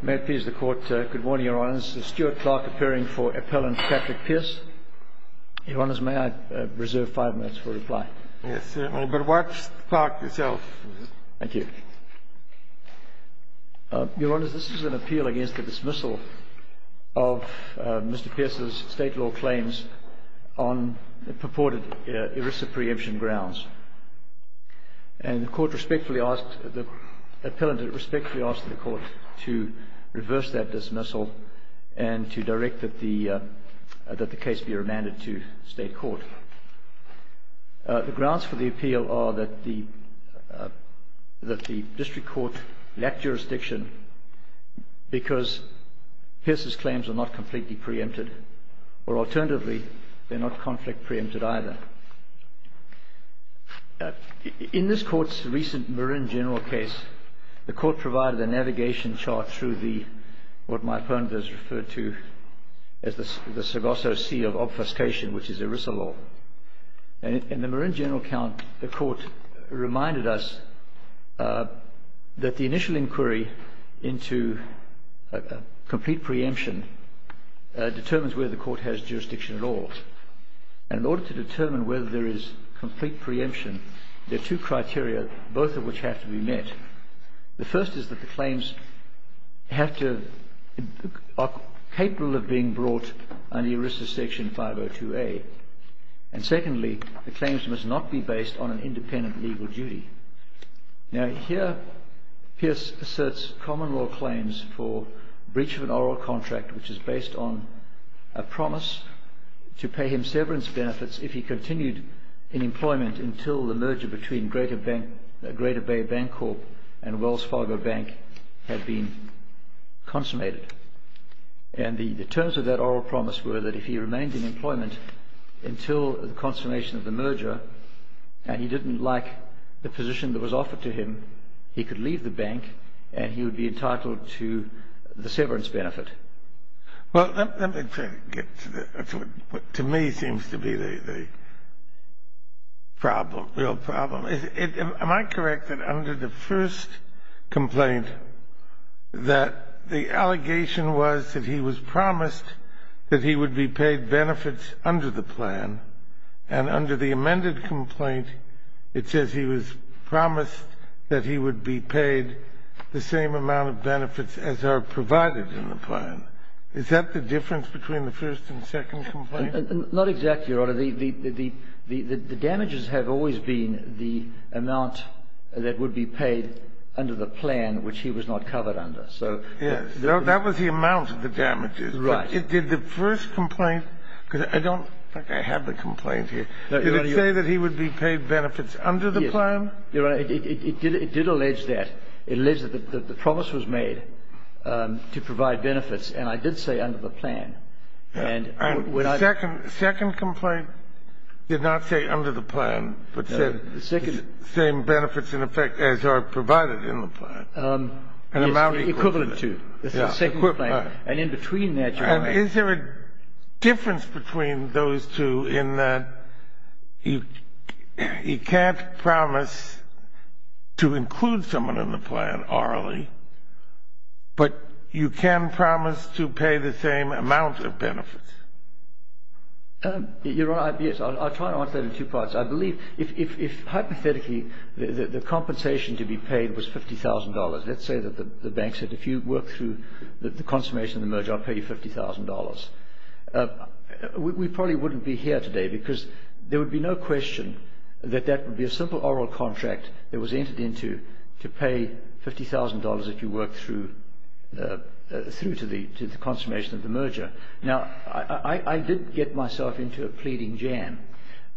May it please the Court, good morning Your Honours, this is Stuart Clarke, appearing for Appellant Patrick Pierce. Your Honours, may I reserve five minutes for reply? Yes, but watch the clock yourself. Thank you. Your Honours, this is an appeal against the dismissal of Mr. Pierce's state law claims on purported ERISA preemption grounds. And the Court respectfully asked, the Appellant respectfully asked the Court to reverse that dismissal and to direct that the case be remanded to State Court. The grounds for the appeal are that the District Court lacked jurisdiction because Pierce's claims are not completely preempted, or alternatively, they're not conflict preempted either. In this Court's recent Marine General case, the Court provided a navigation chart through what my opponent has referred to as the Sargosso Sea of Obfuscation, which is ERISA law. In the Marine General count, the Court reminded us that the initial inquiry into complete preemption determines whether the Court has jurisdiction at all. And in order to determine whether there is complete preemption, there are two criteria, both of which have to be met. The first is that the claims have to, are capable of being brought under ERISA section 502A. And secondly, the claims must not be based on an independent legal duty. Now here, Pierce asserts common law claims for breach of an oral contract which is based on a promise to pay him severance benefits if he continued in employment until the merger between Greater Bay Bank Corp and Wells Fargo Bank had been consummated. And the terms of that oral promise were that if he remained in employment until the consummation of the merger, and he didn't like the position that was offered to him, he could leave the bank and he would be entitled to the severance benefit. Well, let me get to what to me seems to be the problem, real problem. Am I correct that under the first complaint that the allegation was that he was promised that he would be paid benefits under the plan? And under the amended complaint, it says he was promised that he would be paid the same amount of benefits as are provided in the plan. Is that the difference between the first and second complaint? Not exactly, Your Honor. The damages have always been the amount that would be paid under the plan, which he was not covered under. Yes. That was the amount of the damages. Right. Did the first complaint, because I don't think I have the complaint here. Did it say that he would be paid benefits under the plan? Yes, Your Honor. It did allege that. It alleged that the promise was made to provide benefits, and I did say under the plan. And when I... The second complaint did not say under the plan, but said the same benefits in effect as are provided in the plan. Yes, equivalent to. Equivalent. And in between that, Your Honor... Is there a difference between those two in that you can't promise to include someone in the plan orally, but you can promise to pay the same amount of benefits? Your Honor, I'll try to answer that in two parts. I believe if hypothetically the compensation to be paid was $50,000, let's say that the bank said if you work through the consummation of the merger, I'll pay you $50,000. We probably wouldn't be here today because there would be no question that that would be a simple oral contract that was entered into to pay $50,000 if you work through to the consummation of the merger. Now, I did get myself into a pleading jam.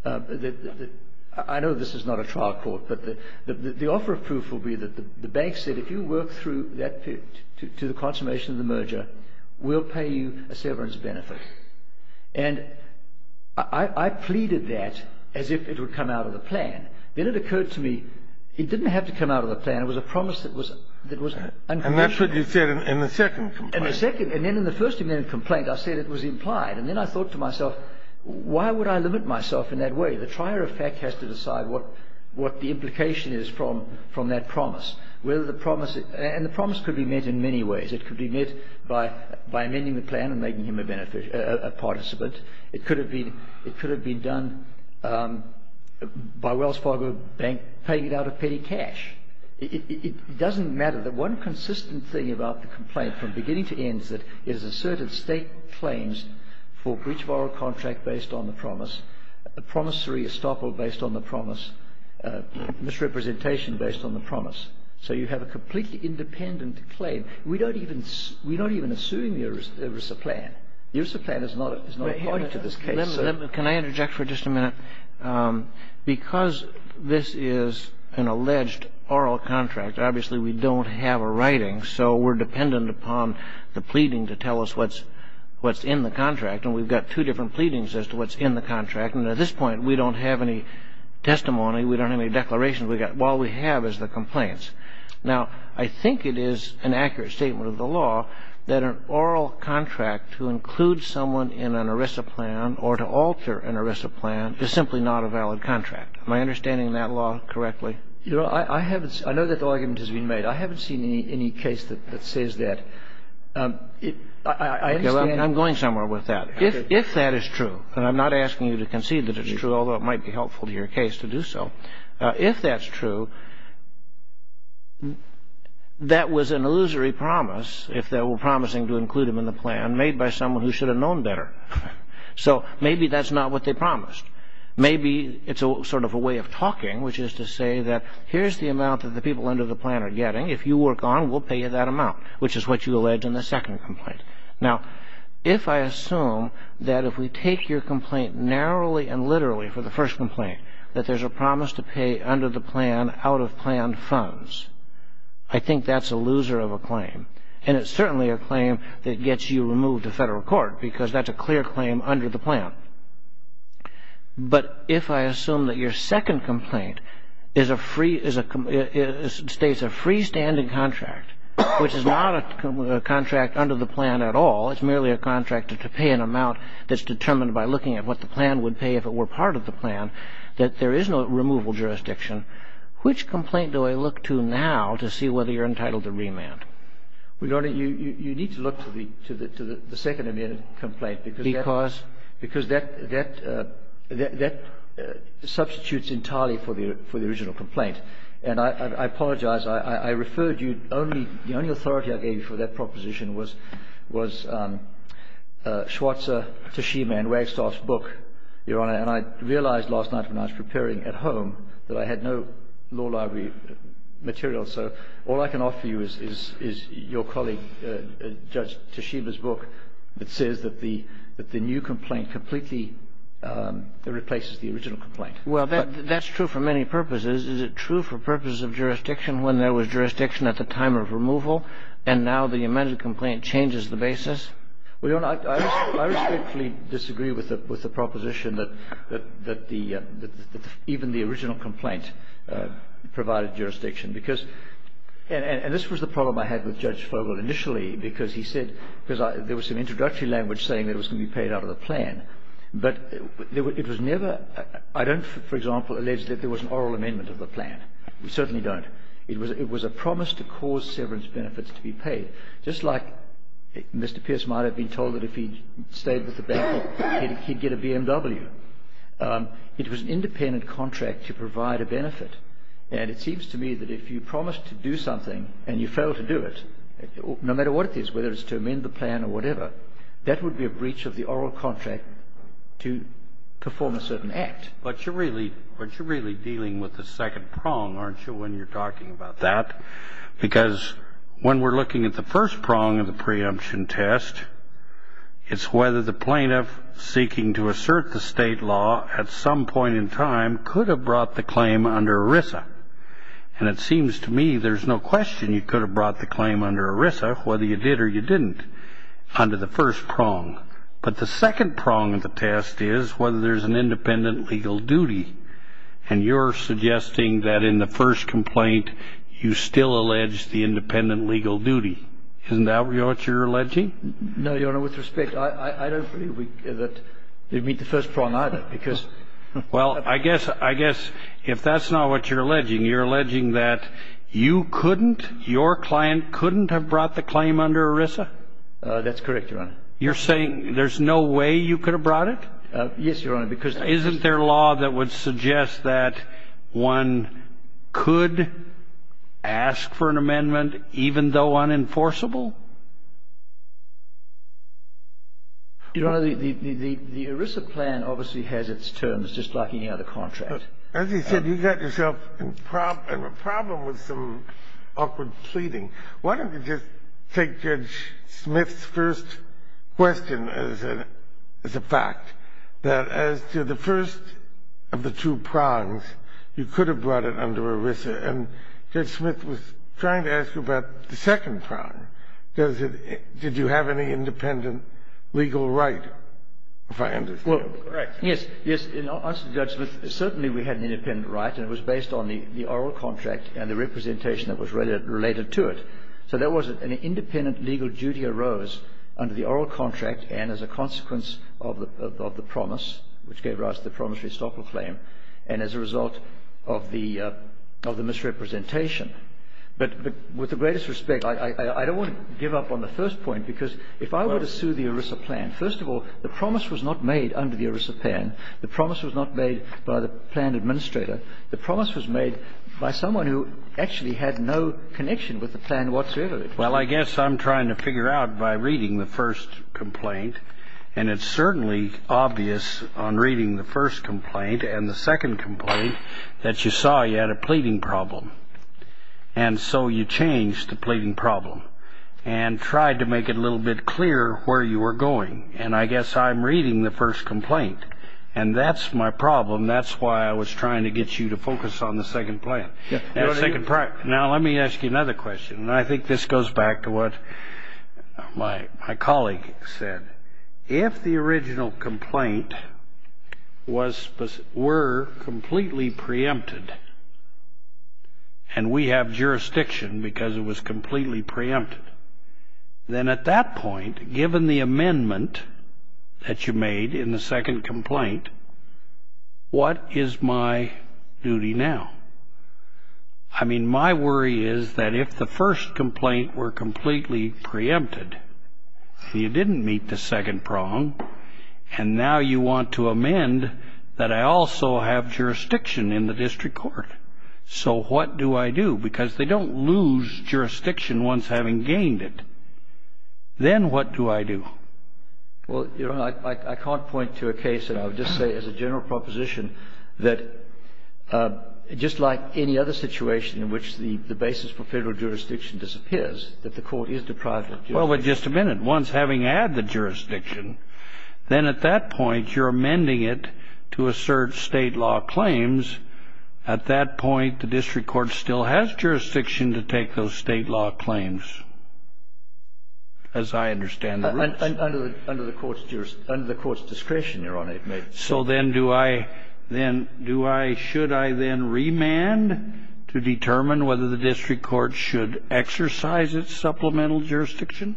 I know this is not a trial court, but the offer of proof will be that the bank said if you work through that period to the consummation of the merger, we'll pay you a severance benefit. And I pleaded that as if it would come out of the plan. Then it occurred to me it didn't have to come out of the plan. It was a promise that was unconditional. And that's what you said in the second complaint. In the second. And then in the first amendment complaint, I said it was implied. And then I thought to myself, why would I limit myself in that way? The trier of fact has to decide what the implication is from that promise. And the promise could be met in many ways. It could be met by amending the plan and making him a participant. It could have been done by Wells Fargo Bank paying it out of petty cash. It doesn't matter. The one consistent thing about the complaint from beginning to end is that it has asserted State claims for breach of oral contract based on the promise, a promissory estoppel based on the promise, misrepresentation based on the promise. So you have a completely independent claim. We don't even assume there is a plan. There is a plan. It's not a party to this case. Kagan. Can I interject for just a minute? Because this is an alleged oral contract, obviously we don't have a writing. So we're dependent upon the pleading to tell us what's in the contract. And we've got two different pleadings as to what's in the contract. And at this point, we don't have any testimony. We don't have any declarations. All we have is the complaints. Now, I think it is an accurate statement of the law that an oral contract to include someone in an ERISA plan or to alter an ERISA plan is simply not a valid contract. Am I understanding that law correctly? Your Honor, I know that the argument has been made. I haven't seen any case that says that. I'm going somewhere with that. If that is true, and I'm not asking you to concede that it's true, although it might be helpful to your case to do so. If that's true, that was an illusory promise, if that were promising to include him in the plan, made by someone who should have known better. So maybe that's not what they promised. Maybe it's sort of a way of talking, which is to say that here's the amount that the people under the plan are getting. If you work on, we'll pay you that amount, which is what you allege in the second complaint. Now, if I assume that if we take your complaint narrowly and literally for the first complaint, that there's a promise to pay under the plan out-of-plan funds, I think that's a loser of a claim. And it's certainly a claim that gets you removed to federal court, because that's a clear claim under the plan. But if I assume that your second complaint states a freestanding contract, which is not a contract under the plan at all, it's merely a contract to pay an amount that's determined by looking at what the plan would pay if it were part of the plan, that there is no removal jurisdiction, which complaint do I look to now to see whether you're entitled to remand? Your Honor, you need to look to the second amendment complaint. Because? Because that substitutes entirely for the original complaint. And I apologize. I referred you, the only authority I gave you for that proposition was Schwarzer, Tashima, and Wagstaff's book, Your Honor. And I realized last night when I was preparing at home that I had no law library material. So all I can offer you is your colleague, Judge Tashima's book, that says that the new complaint completely replaces the original complaint. Well, that's true for many purposes. Is it true for purposes of jurisdiction when there was jurisdiction at the time of removal, and now the amended complaint changes the basis? Well, Your Honor, I respectfully disagree with the proposition that even the original complaint provided jurisdiction. Because, and this was the problem I had with Judge Fogel initially, because he said there was some introductory language saying it was going to be paid out of the plan. But it was never, I don't, for example, allege that there was an oral amendment of the plan. We certainly don't. It was a promise to cause severance benefits to be paid. Just like Mr. Pierce might have been told that if he stayed with the bank, he'd get a BMW. It was an independent contract to provide a benefit. And it seems to me that if you promise to do something and you fail to do it, no matter what it is, whether it's to amend the plan or whatever, that would be a breach of the oral contract to perform a certain act. But you're really dealing with the second prong, aren't you, when you're talking about that? Because when we're looking at the first prong of the preemption test, it's whether the plaintiff seeking to assert the state law at some point in time could have brought the claim under ERISA. And it seems to me there's no question you could have brought the claim under ERISA, whether you did or you didn't, under the first prong. But the second prong of the test is whether there's an independent legal duty. And you're suggesting that in the first complaint, you still allege the independent legal duty. Isn't that what you're alleging? No, Your Honor, with respect, I don't believe that we meet the first prong either, because... Well, I guess if that's not what you're alleging, you're alleging that you couldn't, your client couldn't have brought the claim under ERISA? That's correct, Your Honor. You're saying there's no way you could have brought it? Yes, Your Honor, because... Isn't there law that would suggest that one could ask for an amendment even though unenforceable? Your Honor, the ERISA plan obviously has its terms, just like any other contract. As you said, you got yourself in a problem with some awkward pleading. Why don't we just take Judge Smith's first question as a fact, that as to the first of the two prongs, you could have brought it under ERISA. And Judge Smith was trying to ask you about the second prong. Does it — did you have any independent legal right, if I understand correctly? Well, yes. In answer to Judge Smith, certainly we had an independent right, and it was based on the oral contract and the representation that was related to it. So there was an independent legal duty arose under the oral contract and as a consequence of the promise, which gave rise to the promissory stopper claim, and as a result of the misrepresentation. But with the greatest respect, I don't want to give up on the first point, because if I were to sue the ERISA plan, first of all, the promise was not made under the ERISA plan. The promise was not made by the plan administrator. The promise was made by someone who actually had no connection with the plan whatsoever. Well, I guess I'm trying to figure out by reading the first complaint, and it's certainly obvious on reading the first complaint and the second complaint that you saw you had a pleading problem, and so you changed the pleading problem and tried to make it a little bit clearer where you were going. And I guess I'm reading the first complaint, and that's my problem. That's why I was trying to get you to focus on the second plan. Now, let me ask you another question, and I think this goes back to what my colleague said. If the original complaint were completely preempted, and we have jurisdiction because it was completely preempted, then at that point, given the amendment that you made in the second complaint, what is my duty now? I mean, my worry is that if the first complaint were completely preempted, you didn't meet the second prong, and now you want to amend that I also have jurisdiction in the district court. So what do I do? Because they don't lose jurisdiction once having gained it. Then what do I do? Well, Your Honor, I can't point to a case that I would just say as a general proposition that just like any other situation in which the basis for federal jurisdiction disappears, that the court is deprived of jurisdiction. Well, but just a minute. Once having had the jurisdiction, then at that point, you're amending it to assert state law claims. At that point, the district court still has jurisdiction to take those state law claims, as I understand the rules. Under the court's discretion, Your Honor. So then do I then do I should I then remand to determine whether the district court should exercise its supplemental jurisdiction?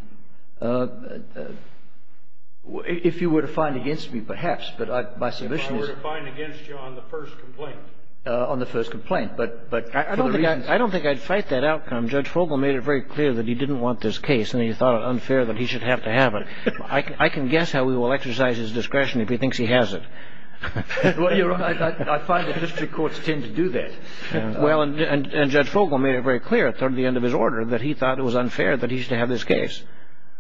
If you were to find against me, perhaps. But my solution is. If I were to find against you on the first complaint. On the first complaint. But for the reasons. I don't think I'd fight that outcome. Judge Fogel made it very clear that he didn't want this case, and he thought it unfair that he should have to have it. I can guess how he will exercise his discretion if he thinks he has it. Well, Your Honor, I find that district courts tend to do that. Well, and Judge Fogel made it very clear at the end of his order that he thought it was unfair that he should have this case.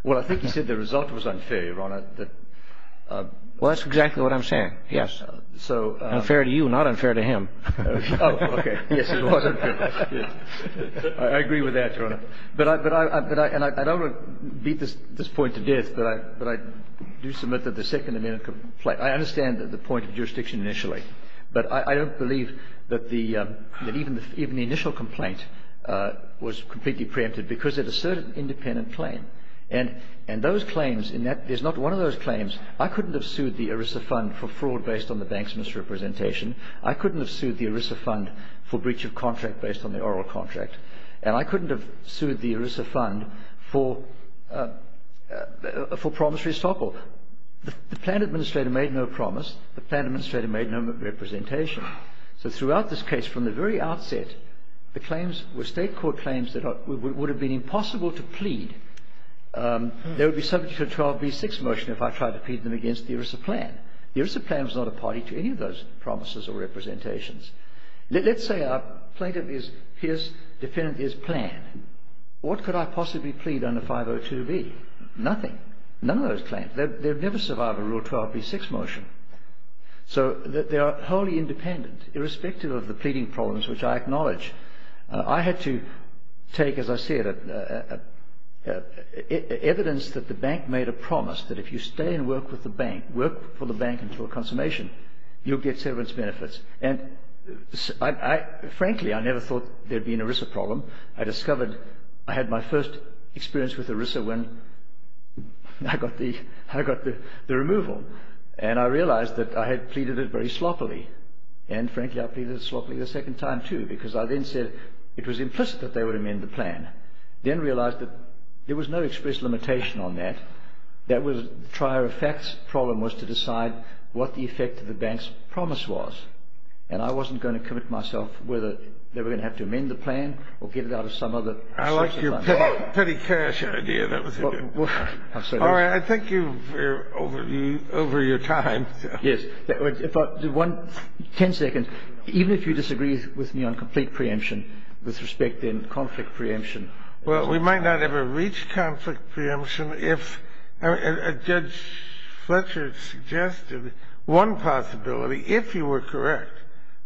Well, I think he said the result was unfair, Your Honor. Well, that's exactly what I'm saying. Yes. Unfair to you, not unfair to him. Oh, okay. Yes, it was unfair. I agree with that, Your Honor. But I don't want to beat this point to death, but I do submit that the Second Amendment complaint. I understand the point of jurisdiction initially, but I don't believe that even the initial complaint was completely preempted because it asserted independent claim. And those claims, and that is not one of those claims. I couldn't have sued the ERISA fund for fraud based on the bank's misrepresentation. I couldn't have sued the ERISA fund for breach of contract based on the oral contract. And I couldn't have sued the ERISA fund for promissory stoppel. The plan administrator made no promise. The plan administrator made no representation. So throughout this case, from the very outset, the claims were State court claims that would have been impossible to plead. There would be subject to a 12b6 motion if I tried to plead them against the ERISA plan. The ERISA plan was not a party to any of those promises or representations. Let's say a plaintiff is, his defendant is planned. What could I possibly plead under 502b? Nothing. None of those claims. They would never survive a Rule 12b6 motion. So they are wholly independent, irrespective of the pleading problems which I acknowledge. I had to take, as I said, evidence that the bank made a promise that if you stay and work with the bank, work for the bank until consummation, you'll get severance benefits. And frankly, I never thought there'd be an ERISA problem. I discovered, I had my first experience with ERISA when I got the removal. And I realized that I had pleaded it very sloppily. And frankly, I pleaded it sloppily the second time, too, because I then said it was implicit that they would amend the plan. Then realized that there was no express limitation on that. That was the trier of facts. The problem was to decide what the effect of the bank's promise was. And I wasn't going to commit myself whether they were going to have to amend the plan or get it out of some other source of money. I like your petty cash idea. All right. I think you're over your time. Yes. Ten seconds. Even if you disagree with me on complete preemption with respect in conflict preemption. Well, we might not ever reach conflict preemption if Judge Fletcher suggested one possibility, if you were correct.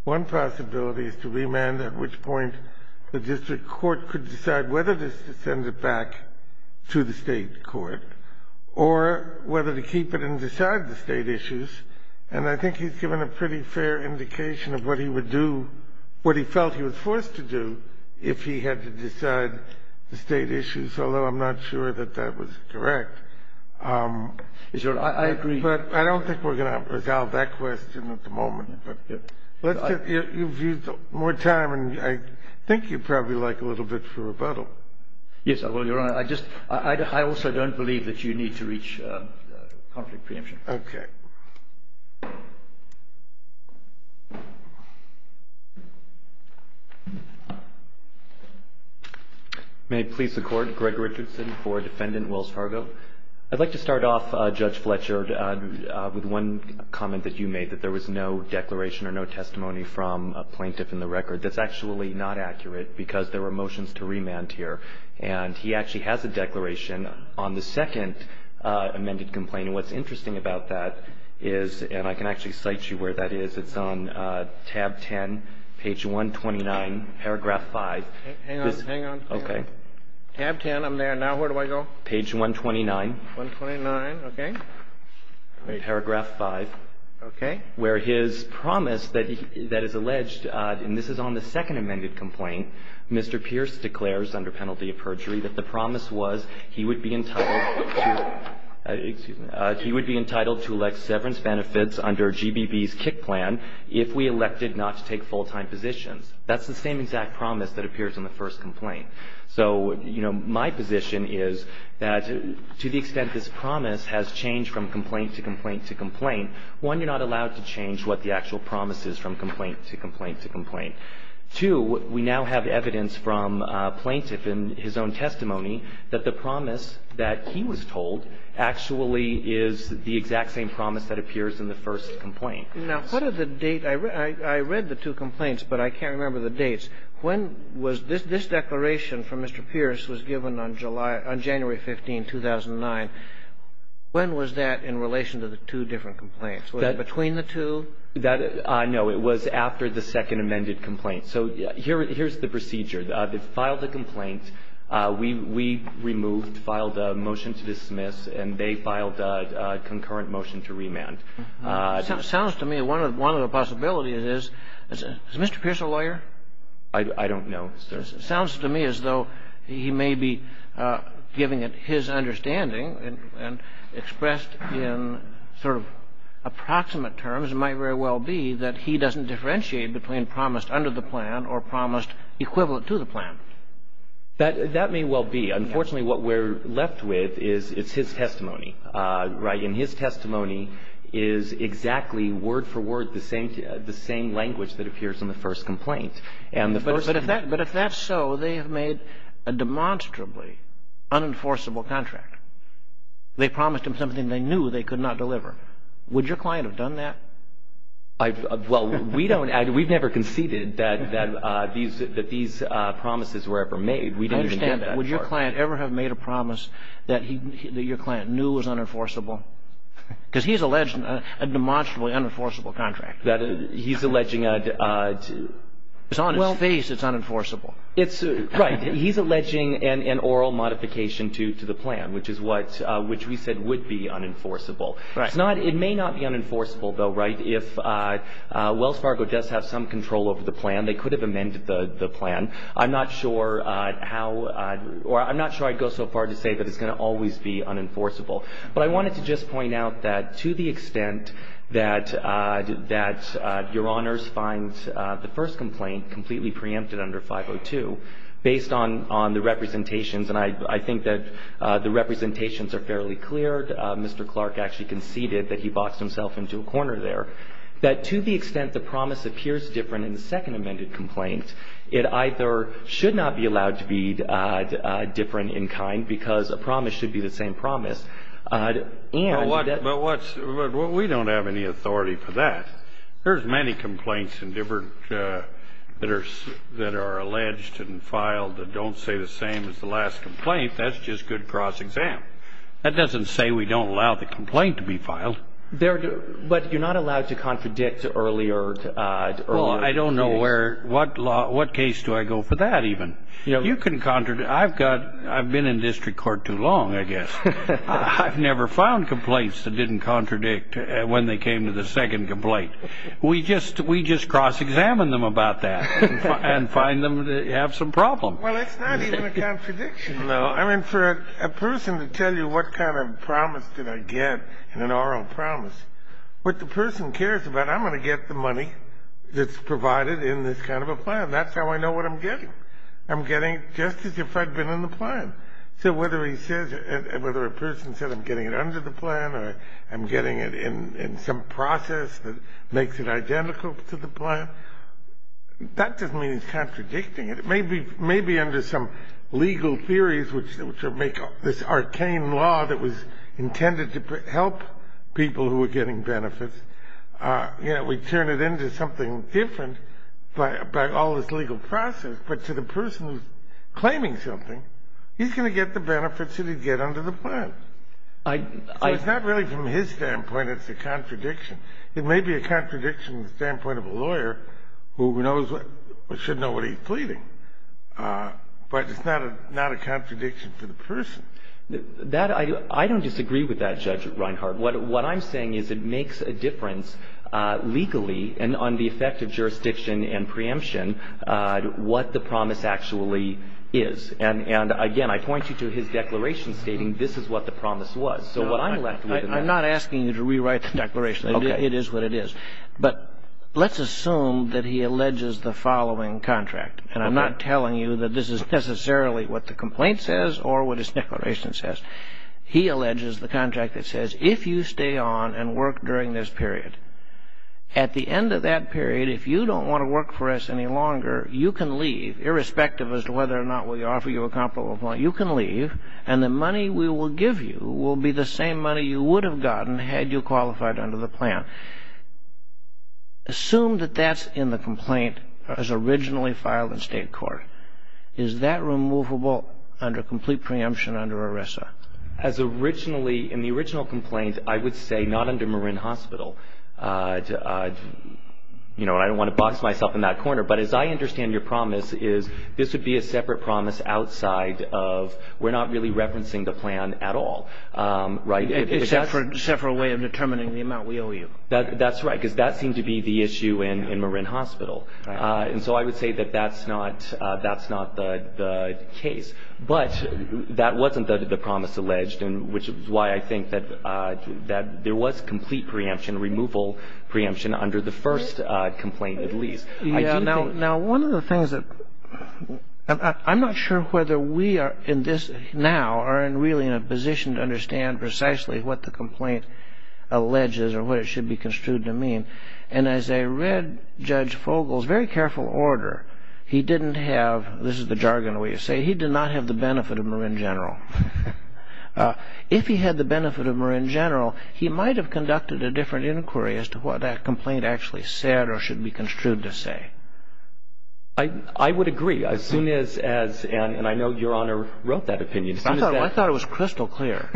One possibility is to remand at which point the district court could decide whether to send it back to the state court. Or whether to keep it and decide the state issues. And I think he's given a pretty fair indication of what he would do, what he felt he was forced to do, if he had to decide the state issues. Although I'm not sure that that was correct. I agree. But I don't think we're going to resolve that question at the moment. But you've used more time and I think you'd probably like a little bit for rebuttal. Yes. Well, Your Honor, I also don't believe that you need to reach conflict preemption. Okay. May it please the Court. Greg Richardson for Defendant Wells Fargo. I'd like to start off, Judge Fletcher, with one comment that you made, that there was no declaration or no testimony from a plaintiff in the record that's actually not accurate because there were motions to remand here. And he actually has a declaration on the second amended complaint. And what's interesting about that is, and I can actually cite you where that is, it's on tab 10, page 129, paragraph 5. Hang on, hang on. Okay. Tab 10, I'm there. Now where do I go? Page 129. 129, okay. Paragraph 5. Okay. Where his promise that is alleged, and this is on the second amended complaint, Mr. Pierce declares under penalty of perjury that the promise was he would be entitled to elect severance benefits under GBB's kick plan if we elected not to take full-time positions. That's the same exact promise that appears on the first complaint. So, you know, my position is that to the extent this promise has changed from complaint to complaint to complaint, one, you're not allowed to change what the actual promise is from complaint to complaint to complaint. Two, we now have evidence from a plaintiff in his own testimony that the promise that he was told actually is the exact same promise that appears in the first complaint. Now, what are the date? I read the two complaints, but I can't remember the dates. This declaration from Mr. Pierce was given on January 15, 2009. When was that in relation to the two different complaints? Was it between the two? No. It was after the second amended complaint. So here's the procedure. They filed the complaint. We removed, filed a motion to dismiss, and they filed a concurrent motion to remand. It sounds to me one of the possibilities is, is Mr. Pierce a lawyer? I don't know, sir. It sounds to me as though he may be giving it his understanding and expressed in sort of approximate terms. It might very well be that he doesn't differentiate between promised under the plan or promised equivalent to the plan. That may well be. Unfortunately, what we're left with is it's his testimony, right? It is exactly word for word the same language that appears in the first complaint. But if that's so, they have made a demonstrably unenforceable contract. They promised him something they knew they could not deliver. Would your client have done that? Well, we don't. We've never conceded that these promises were ever made. I understand. Would your client ever have made a promise that your client knew was unenforceable? Because he's alleged a demonstrably unenforceable contract. He's alleging a ---- It's on his face it's unenforceable. Right. He's alleging an oral modification to the plan, which is what we said would be unenforceable. Right. It may not be unenforceable, though, right, if Wells Fargo does have some control over the plan. They could have amended the plan. I'm not sure how or I'm not sure I'd go so far to say that it's going to always be unenforceable. But I wanted to just point out that to the extent that your Honors finds the first complaint completely preempted under 502, based on the representations, and I think that the representations are fairly clear, Mr. Clark actually conceded that he boxed himself into a corner there, that to the extent the promise appears different in the second amended complaint, it either should not be allowed to be different in kind because a promise should be the same promise But we don't have any authority for that. There's many complaints that are alleged and filed that don't say the same as the last complaint. That's just good cross-exam. That doesn't say we don't allow the complaint to be filed. But you're not allowed to contradict earlier. Well, I don't know what case do I go for that even. You can contradict. I've been in district court too long, I guess. I've never found complaints that didn't contradict when they came to the second complaint. We just cross-examine them about that and find them to have some problem. Well, it's not even a contradiction. I mean, for a person to tell you what kind of promise did I get in an oral promise, what the person cares about, I'm going to get the money that's provided in this kind of a plan. That's how I know what I'm getting. I'm getting just as if I'd been in the plan. So whether a person says I'm getting it under the plan or I'm getting it in some process that makes it identical to the plan, that doesn't mean he's contradicting it. It may be under some legal theories, which make this arcane law that was intended to help people who were getting benefits. We turn it into something different by all this legal process. But to the person who's claiming something, he's going to get the benefits that he'd get under the plan. So it's not really from his standpoint it's a contradiction. It may be a contradiction from the standpoint of a lawyer who should know what he's pleading. But it's not a contradiction to the person. I don't disagree with that, Judge Reinhart. What I'm saying is it makes a difference legally and on the effect of jurisdiction and preemption what the promise actually is. And, again, I point you to his declaration stating this is what the promise was. So what I'm left with is this. I'm not asking you to rewrite the declaration. It is what it is. But let's assume that he alleges the following contract. And I'm not telling you that this is necessarily what the complaint says or what his declaration says. He alleges the contract that says if you stay on and work during this period, at the end of that period, if you don't want to work for us any longer, you can leave, irrespective as to whether or not we offer you a comparable point. You can leave, and the money we will give you will be the same money you would have gotten had you qualified under the plan. Assume that that's in the complaint as originally filed in state court. Is that removable under complete preemption under ERISA? As originally in the original complaint, I would say not under Marin Hospital. You know, I don't want to box myself in that corner, but as I understand your promise is this would be a separate promise outside of we're not really referencing the plan at all, right? Except for a way of determining the amount we owe you. That's right, because that seemed to be the issue in Marin Hospital. And so I would say that that's not the case. But that wasn't the promise alleged, which is why I think that there was complete preemption, removal preemption under the first complaint at least. Now, one of the things that I'm not sure whether we are in this now are really in a position to understand precisely what the complaint alleges or what it should be construed to mean. And as I read Judge Fogel's very careful order, he didn't have, this is the jargon we say, he did not have the benefit of Marin General. If he had the benefit of Marin General, he might have conducted a different inquiry as to what that complaint actually said or should be construed to say. I would agree. As soon as, and I know Your Honor wrote that opinion. I thought it was crystal clear.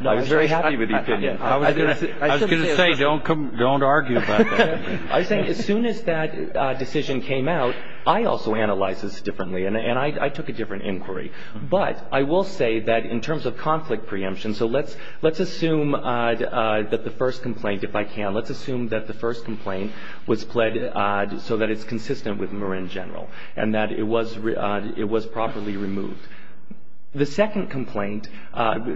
I was very happy with the opinion. I was going to say don't argue about that. I was saying as soon as that decision came out, I also analyzed this differently and I took a different inquiry. But I will say that in terms of conflict preemption, so let's assume that the first complaint, if I can, let's assume that the first complaint was pled so that it's consistent with Marin General and that it was properly removed. The second complaint,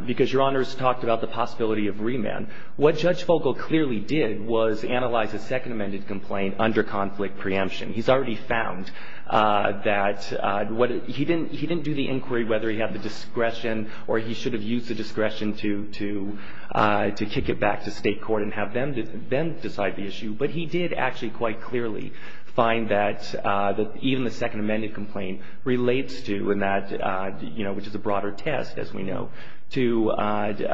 because Your Honors talked about the possibility of remand, what Judge Vogel clearly did was analyze the second amended complaint under conflict preemption. He's already found that he didn't do the inquiry whether he had the discretion or he should have used the discretion to kick it back to state court and have them decide the issue, but he did actually quite clearly find that even the second amended complaint relates to, which is a broader test, as we know, to the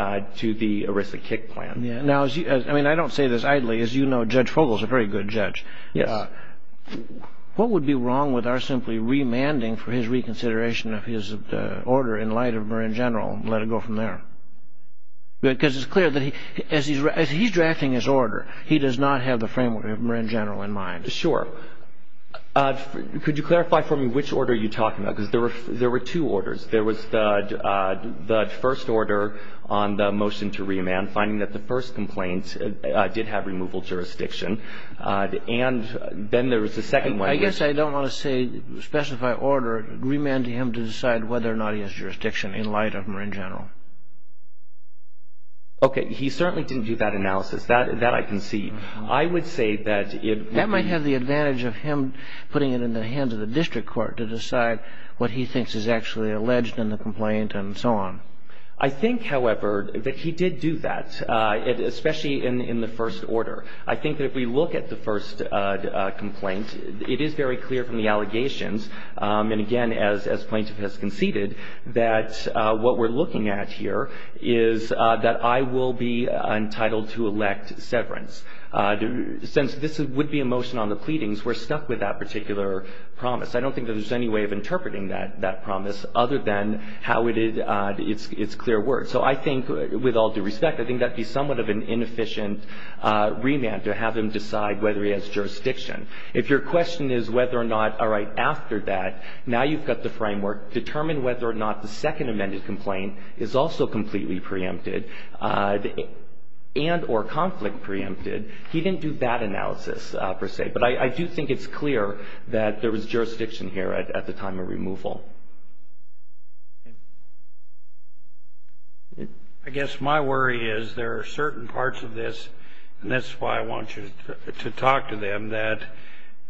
ERISA kick plan. I don't say this idly. As you know, Judge Vogel is a very good judge. What would be wrong with our simply remanding for his reconsideration of his order in light of Marin General and let it go from there? Because it's clear that as he's drafting his order, he does not have the framework of Marin General in mind. Sure. Could you clarify for me which order you're talking about? Because there were two orders. There was the first order on the motion to remand, finding that the first complaint did have removal jurisdiction, and then there was the second one. I guess I don't want to say specify order, remand to him to decide whether or not he has jurisdiction in light of Marin General. Okay. He certainly didn't do that analysis. That I can see. I would say that it... I think, however, that he did do that, especially in the first order. I think that if we look at the first complaint, it is very clear from the allegations, and, again, as plaintiff has conceded, that what we're looking at here is that I will be entitled to elect severance. Since this would be a motion on the pleading, we're stuck with that particular promise. I don't think that there's any way of interpreting that promise other than how it's clear word. So I think, with all due respect, I think that would be somewhat of an inefficient remand to have him decide whether he has jurisdiction. If your question is whether or not, all right, after that, now you've got the framework, determine whether or not the second amended complaint is also completely preempted and or conflict preempted, he didn't do that analysis, per se. But I do think it's clear that there was jurisdiction here at the time of removal. I guess my worry is there are certain parts of this, and that's why I want you to talk to them, that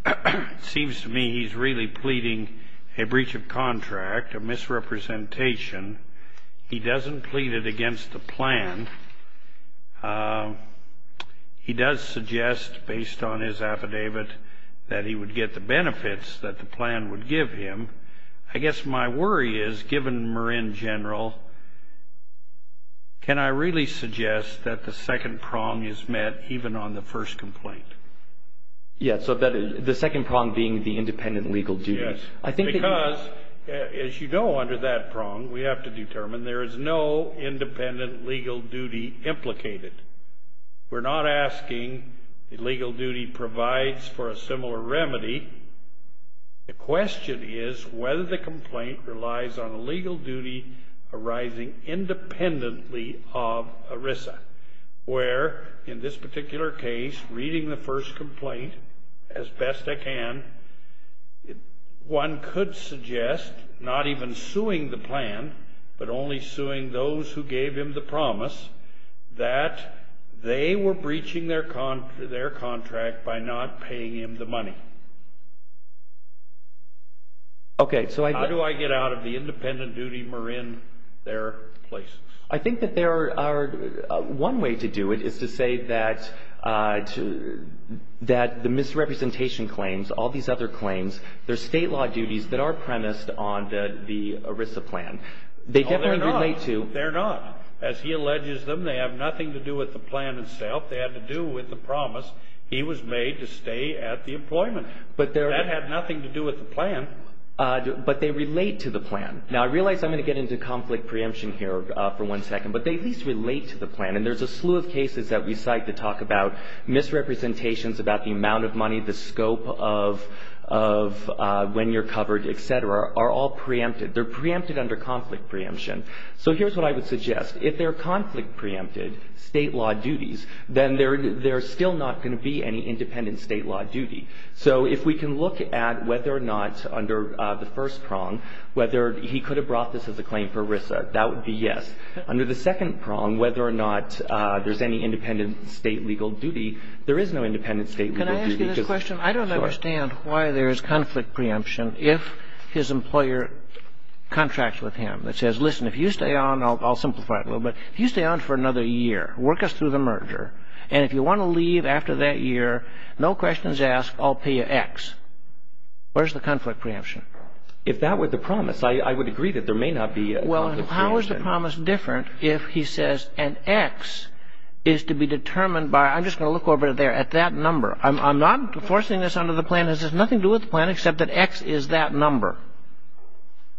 it seems to me he's really pleading a breach of contract, a misrepresentation. He doesn't plead it against the plan. He does suggest, based on his affidavit, that he would get the benefits that the plan would give him. I guess my worry is, given Marin General, can I really suggest that the second prong is met even on the first complaint? Yeah, so the second prong being the independent legal duty. Yes. Because, as you know, under that prong, we have to determine there is no independent legal duty implicated. We're not asking the legal duty provides for a similar remedy. The question is whether the complaint relies on a legal duty arising independently of ERISA, where, in this particular case, reading the first complaint as best I can, one could suggest, not even suing the plan, but only suing those who gave him the promise, that they were breaching their contract by not paying him the money. Okay. How do I get out of the independent duty, Marin, their place? I think that there are one way to do it is to say that the misrepresentation claims, all these other claims, they're state law duties that are premised on the ERISA plan. Oh, they're not. They definitely relate to. They're not. As he alleges them, they have nothing to do with the plan itself. They have to do with the promise he was made to stay at the employment. That had nothing to do with the plan. But they relate to the plan. Now, I realize I'm going to get into conflict preemption here for one second, but they at least relate to the plan, and there's a slew of cases that we cite that talk about misrepresentations, about the amount of money, the scope of when you're covered, et cetera, are all preempted. They're preempted under conflict preemption. So here's what I would suggest. If they're conflict preempted state law duties, then there's still not going to be any independent state law duty. So if we can look at whether or not under the first prong, whether he could have brought this as a claim for ERISA, that would be yes. Under the second prong, whether or not there's any independent state legal duty, there is no independent state legal duty. Can I ask you this question? Sure. I don't understand why there's conflict preemption if his employer contracts with him. It says, listen, if you stay on, I'll simplify it a little bit. If you stay on for another year, work us through the merger, and if you want to leave after that year, no questions asked, I'll pay you X. Where's the conflict preemption? If that were the promise, I would agree that there may not be conflict preemption. Well, how is the promise different if he says an X is to be determined by I'm just going to look over it there, at that number. I'm not enforcing this under the plan. This has nothing to do with the plan except that X is that number.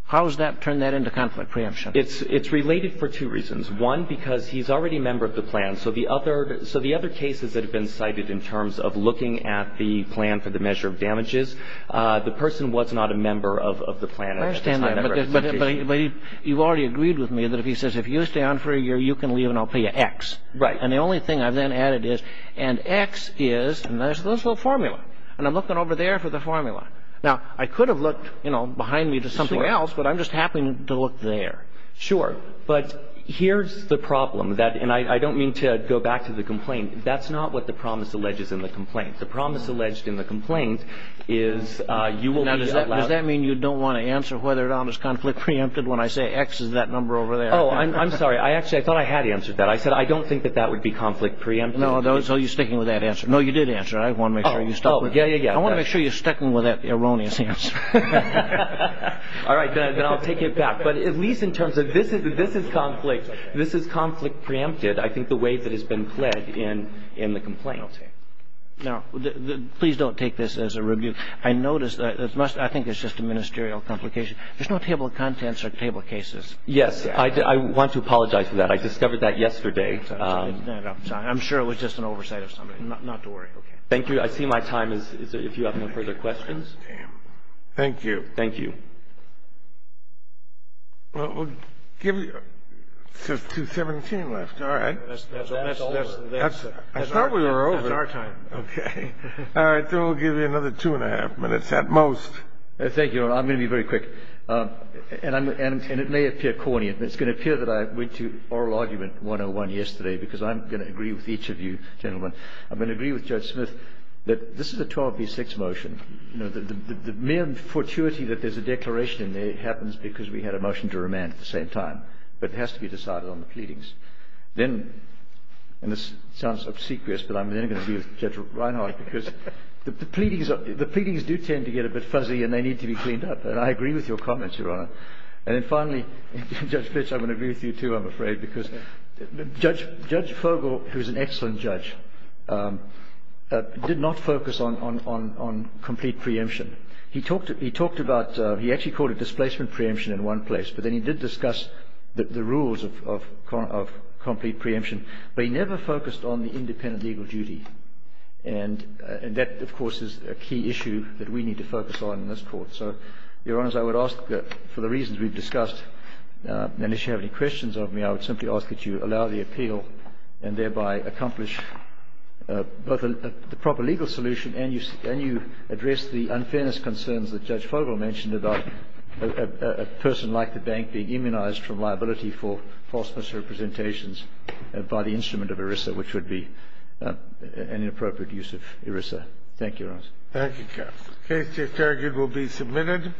How does that turn that into conflict preemption? It's related for two reasons. One, because he's already a member of the plan. So the other cases that have been cited in terms of looking at the plan for the measure of damages, the person was not a member of the plan. I understand that, but you've already agreed with me that if he says, if you stay on for a year, you can leave and I'll pay you X. Right. And the only thing I've then added is, and X is, and there's this little formula. And I'm looking over there for the formula. Now, I could have looked, you know, behind me to something else. But I'm just happy to look there. Sure. But here's the problem. And I don't mean to go back to the complaint. That's not what the promise alleges in the complaint. The promise alleged in the complaint is you will be allowed. Now, does that mean you don't want to answer whether or not there's conflict preempted when I say X is that number over there? Oh, I'm sorry. Actually, I thought I had answered that. I said I don't think that that would be conflict preempted. No. So you're sticking with that answer. No, you did answer it. I want to make sure you stuck with it. Oh, yeah, yeah, yeah. I want to make sure you're sticking with that erroneous answer. All right. Then I'll take it back. But at least in terms of this is conflict. This is conflict preempted, I think, the way that has been pledged in the complaint. Okay. Now, please don't take this as a review. I noticed, I think it's just a ministerial complication. There's no table of contents or table of cases. Yes. I want to apologize for that. I discovered that yesterday. I'm sorry. I'm sure it was just an oversight of somebody. Not to worry. Okay. Thank you. I see my time is up. If you have any further questions. Thank you. Thank you. Well, we'll give you just 2.17 left. All right. That's over. I thought we were over. That's our time. Okay. All right. Then we'll give you another two and a half minutes at most. Thank you. I'm going to be very quick. And it may appear corny. It's going to appear that I went to oral argument 101 yesterday because I'm going to agree with each of you, gentlemen. I'm going to agree with Judge Smith that this is a 12B6 motion. You know, the mere fortuity that there's a declaration in there happens because we had a motion to remand at the same time. But it has to be decided on the pleadings. Then, and this sounds obsequious, but I'm then going to be with Judge Reinhart because the pleadings do tend to get a bit fuzzy and they need to be cleaned up. And I agree with your comments, Your Honor. And then finally, Judge Fitch, I'm going to agree with you too, I'm afraid, because Judge Fogel, who is an excellent judge, did not focus on complete preemption. He talked about, he actually called it displacement preemption in one place, but then he did discuss the rules of complete preemption. But he never focused on the independent legal duty. And that, of course, is a key issue that we need to focus on in this court. So, Your Honors, I would ask for the reasons we've discussed, and if you have any questions of me, I would simply ask that you allow the appeal and thereby accomplish both the proper legal solution and you address the unfairness concerns that Judge Fogel mentioned about a person like the bank being immunized from liability for false misrepresentations by the instrument of ERISA, which would be an inappropriate use of ERISA. Thank you, Your Honors. Thank you, counsel. The case to be interrogated will be submitted.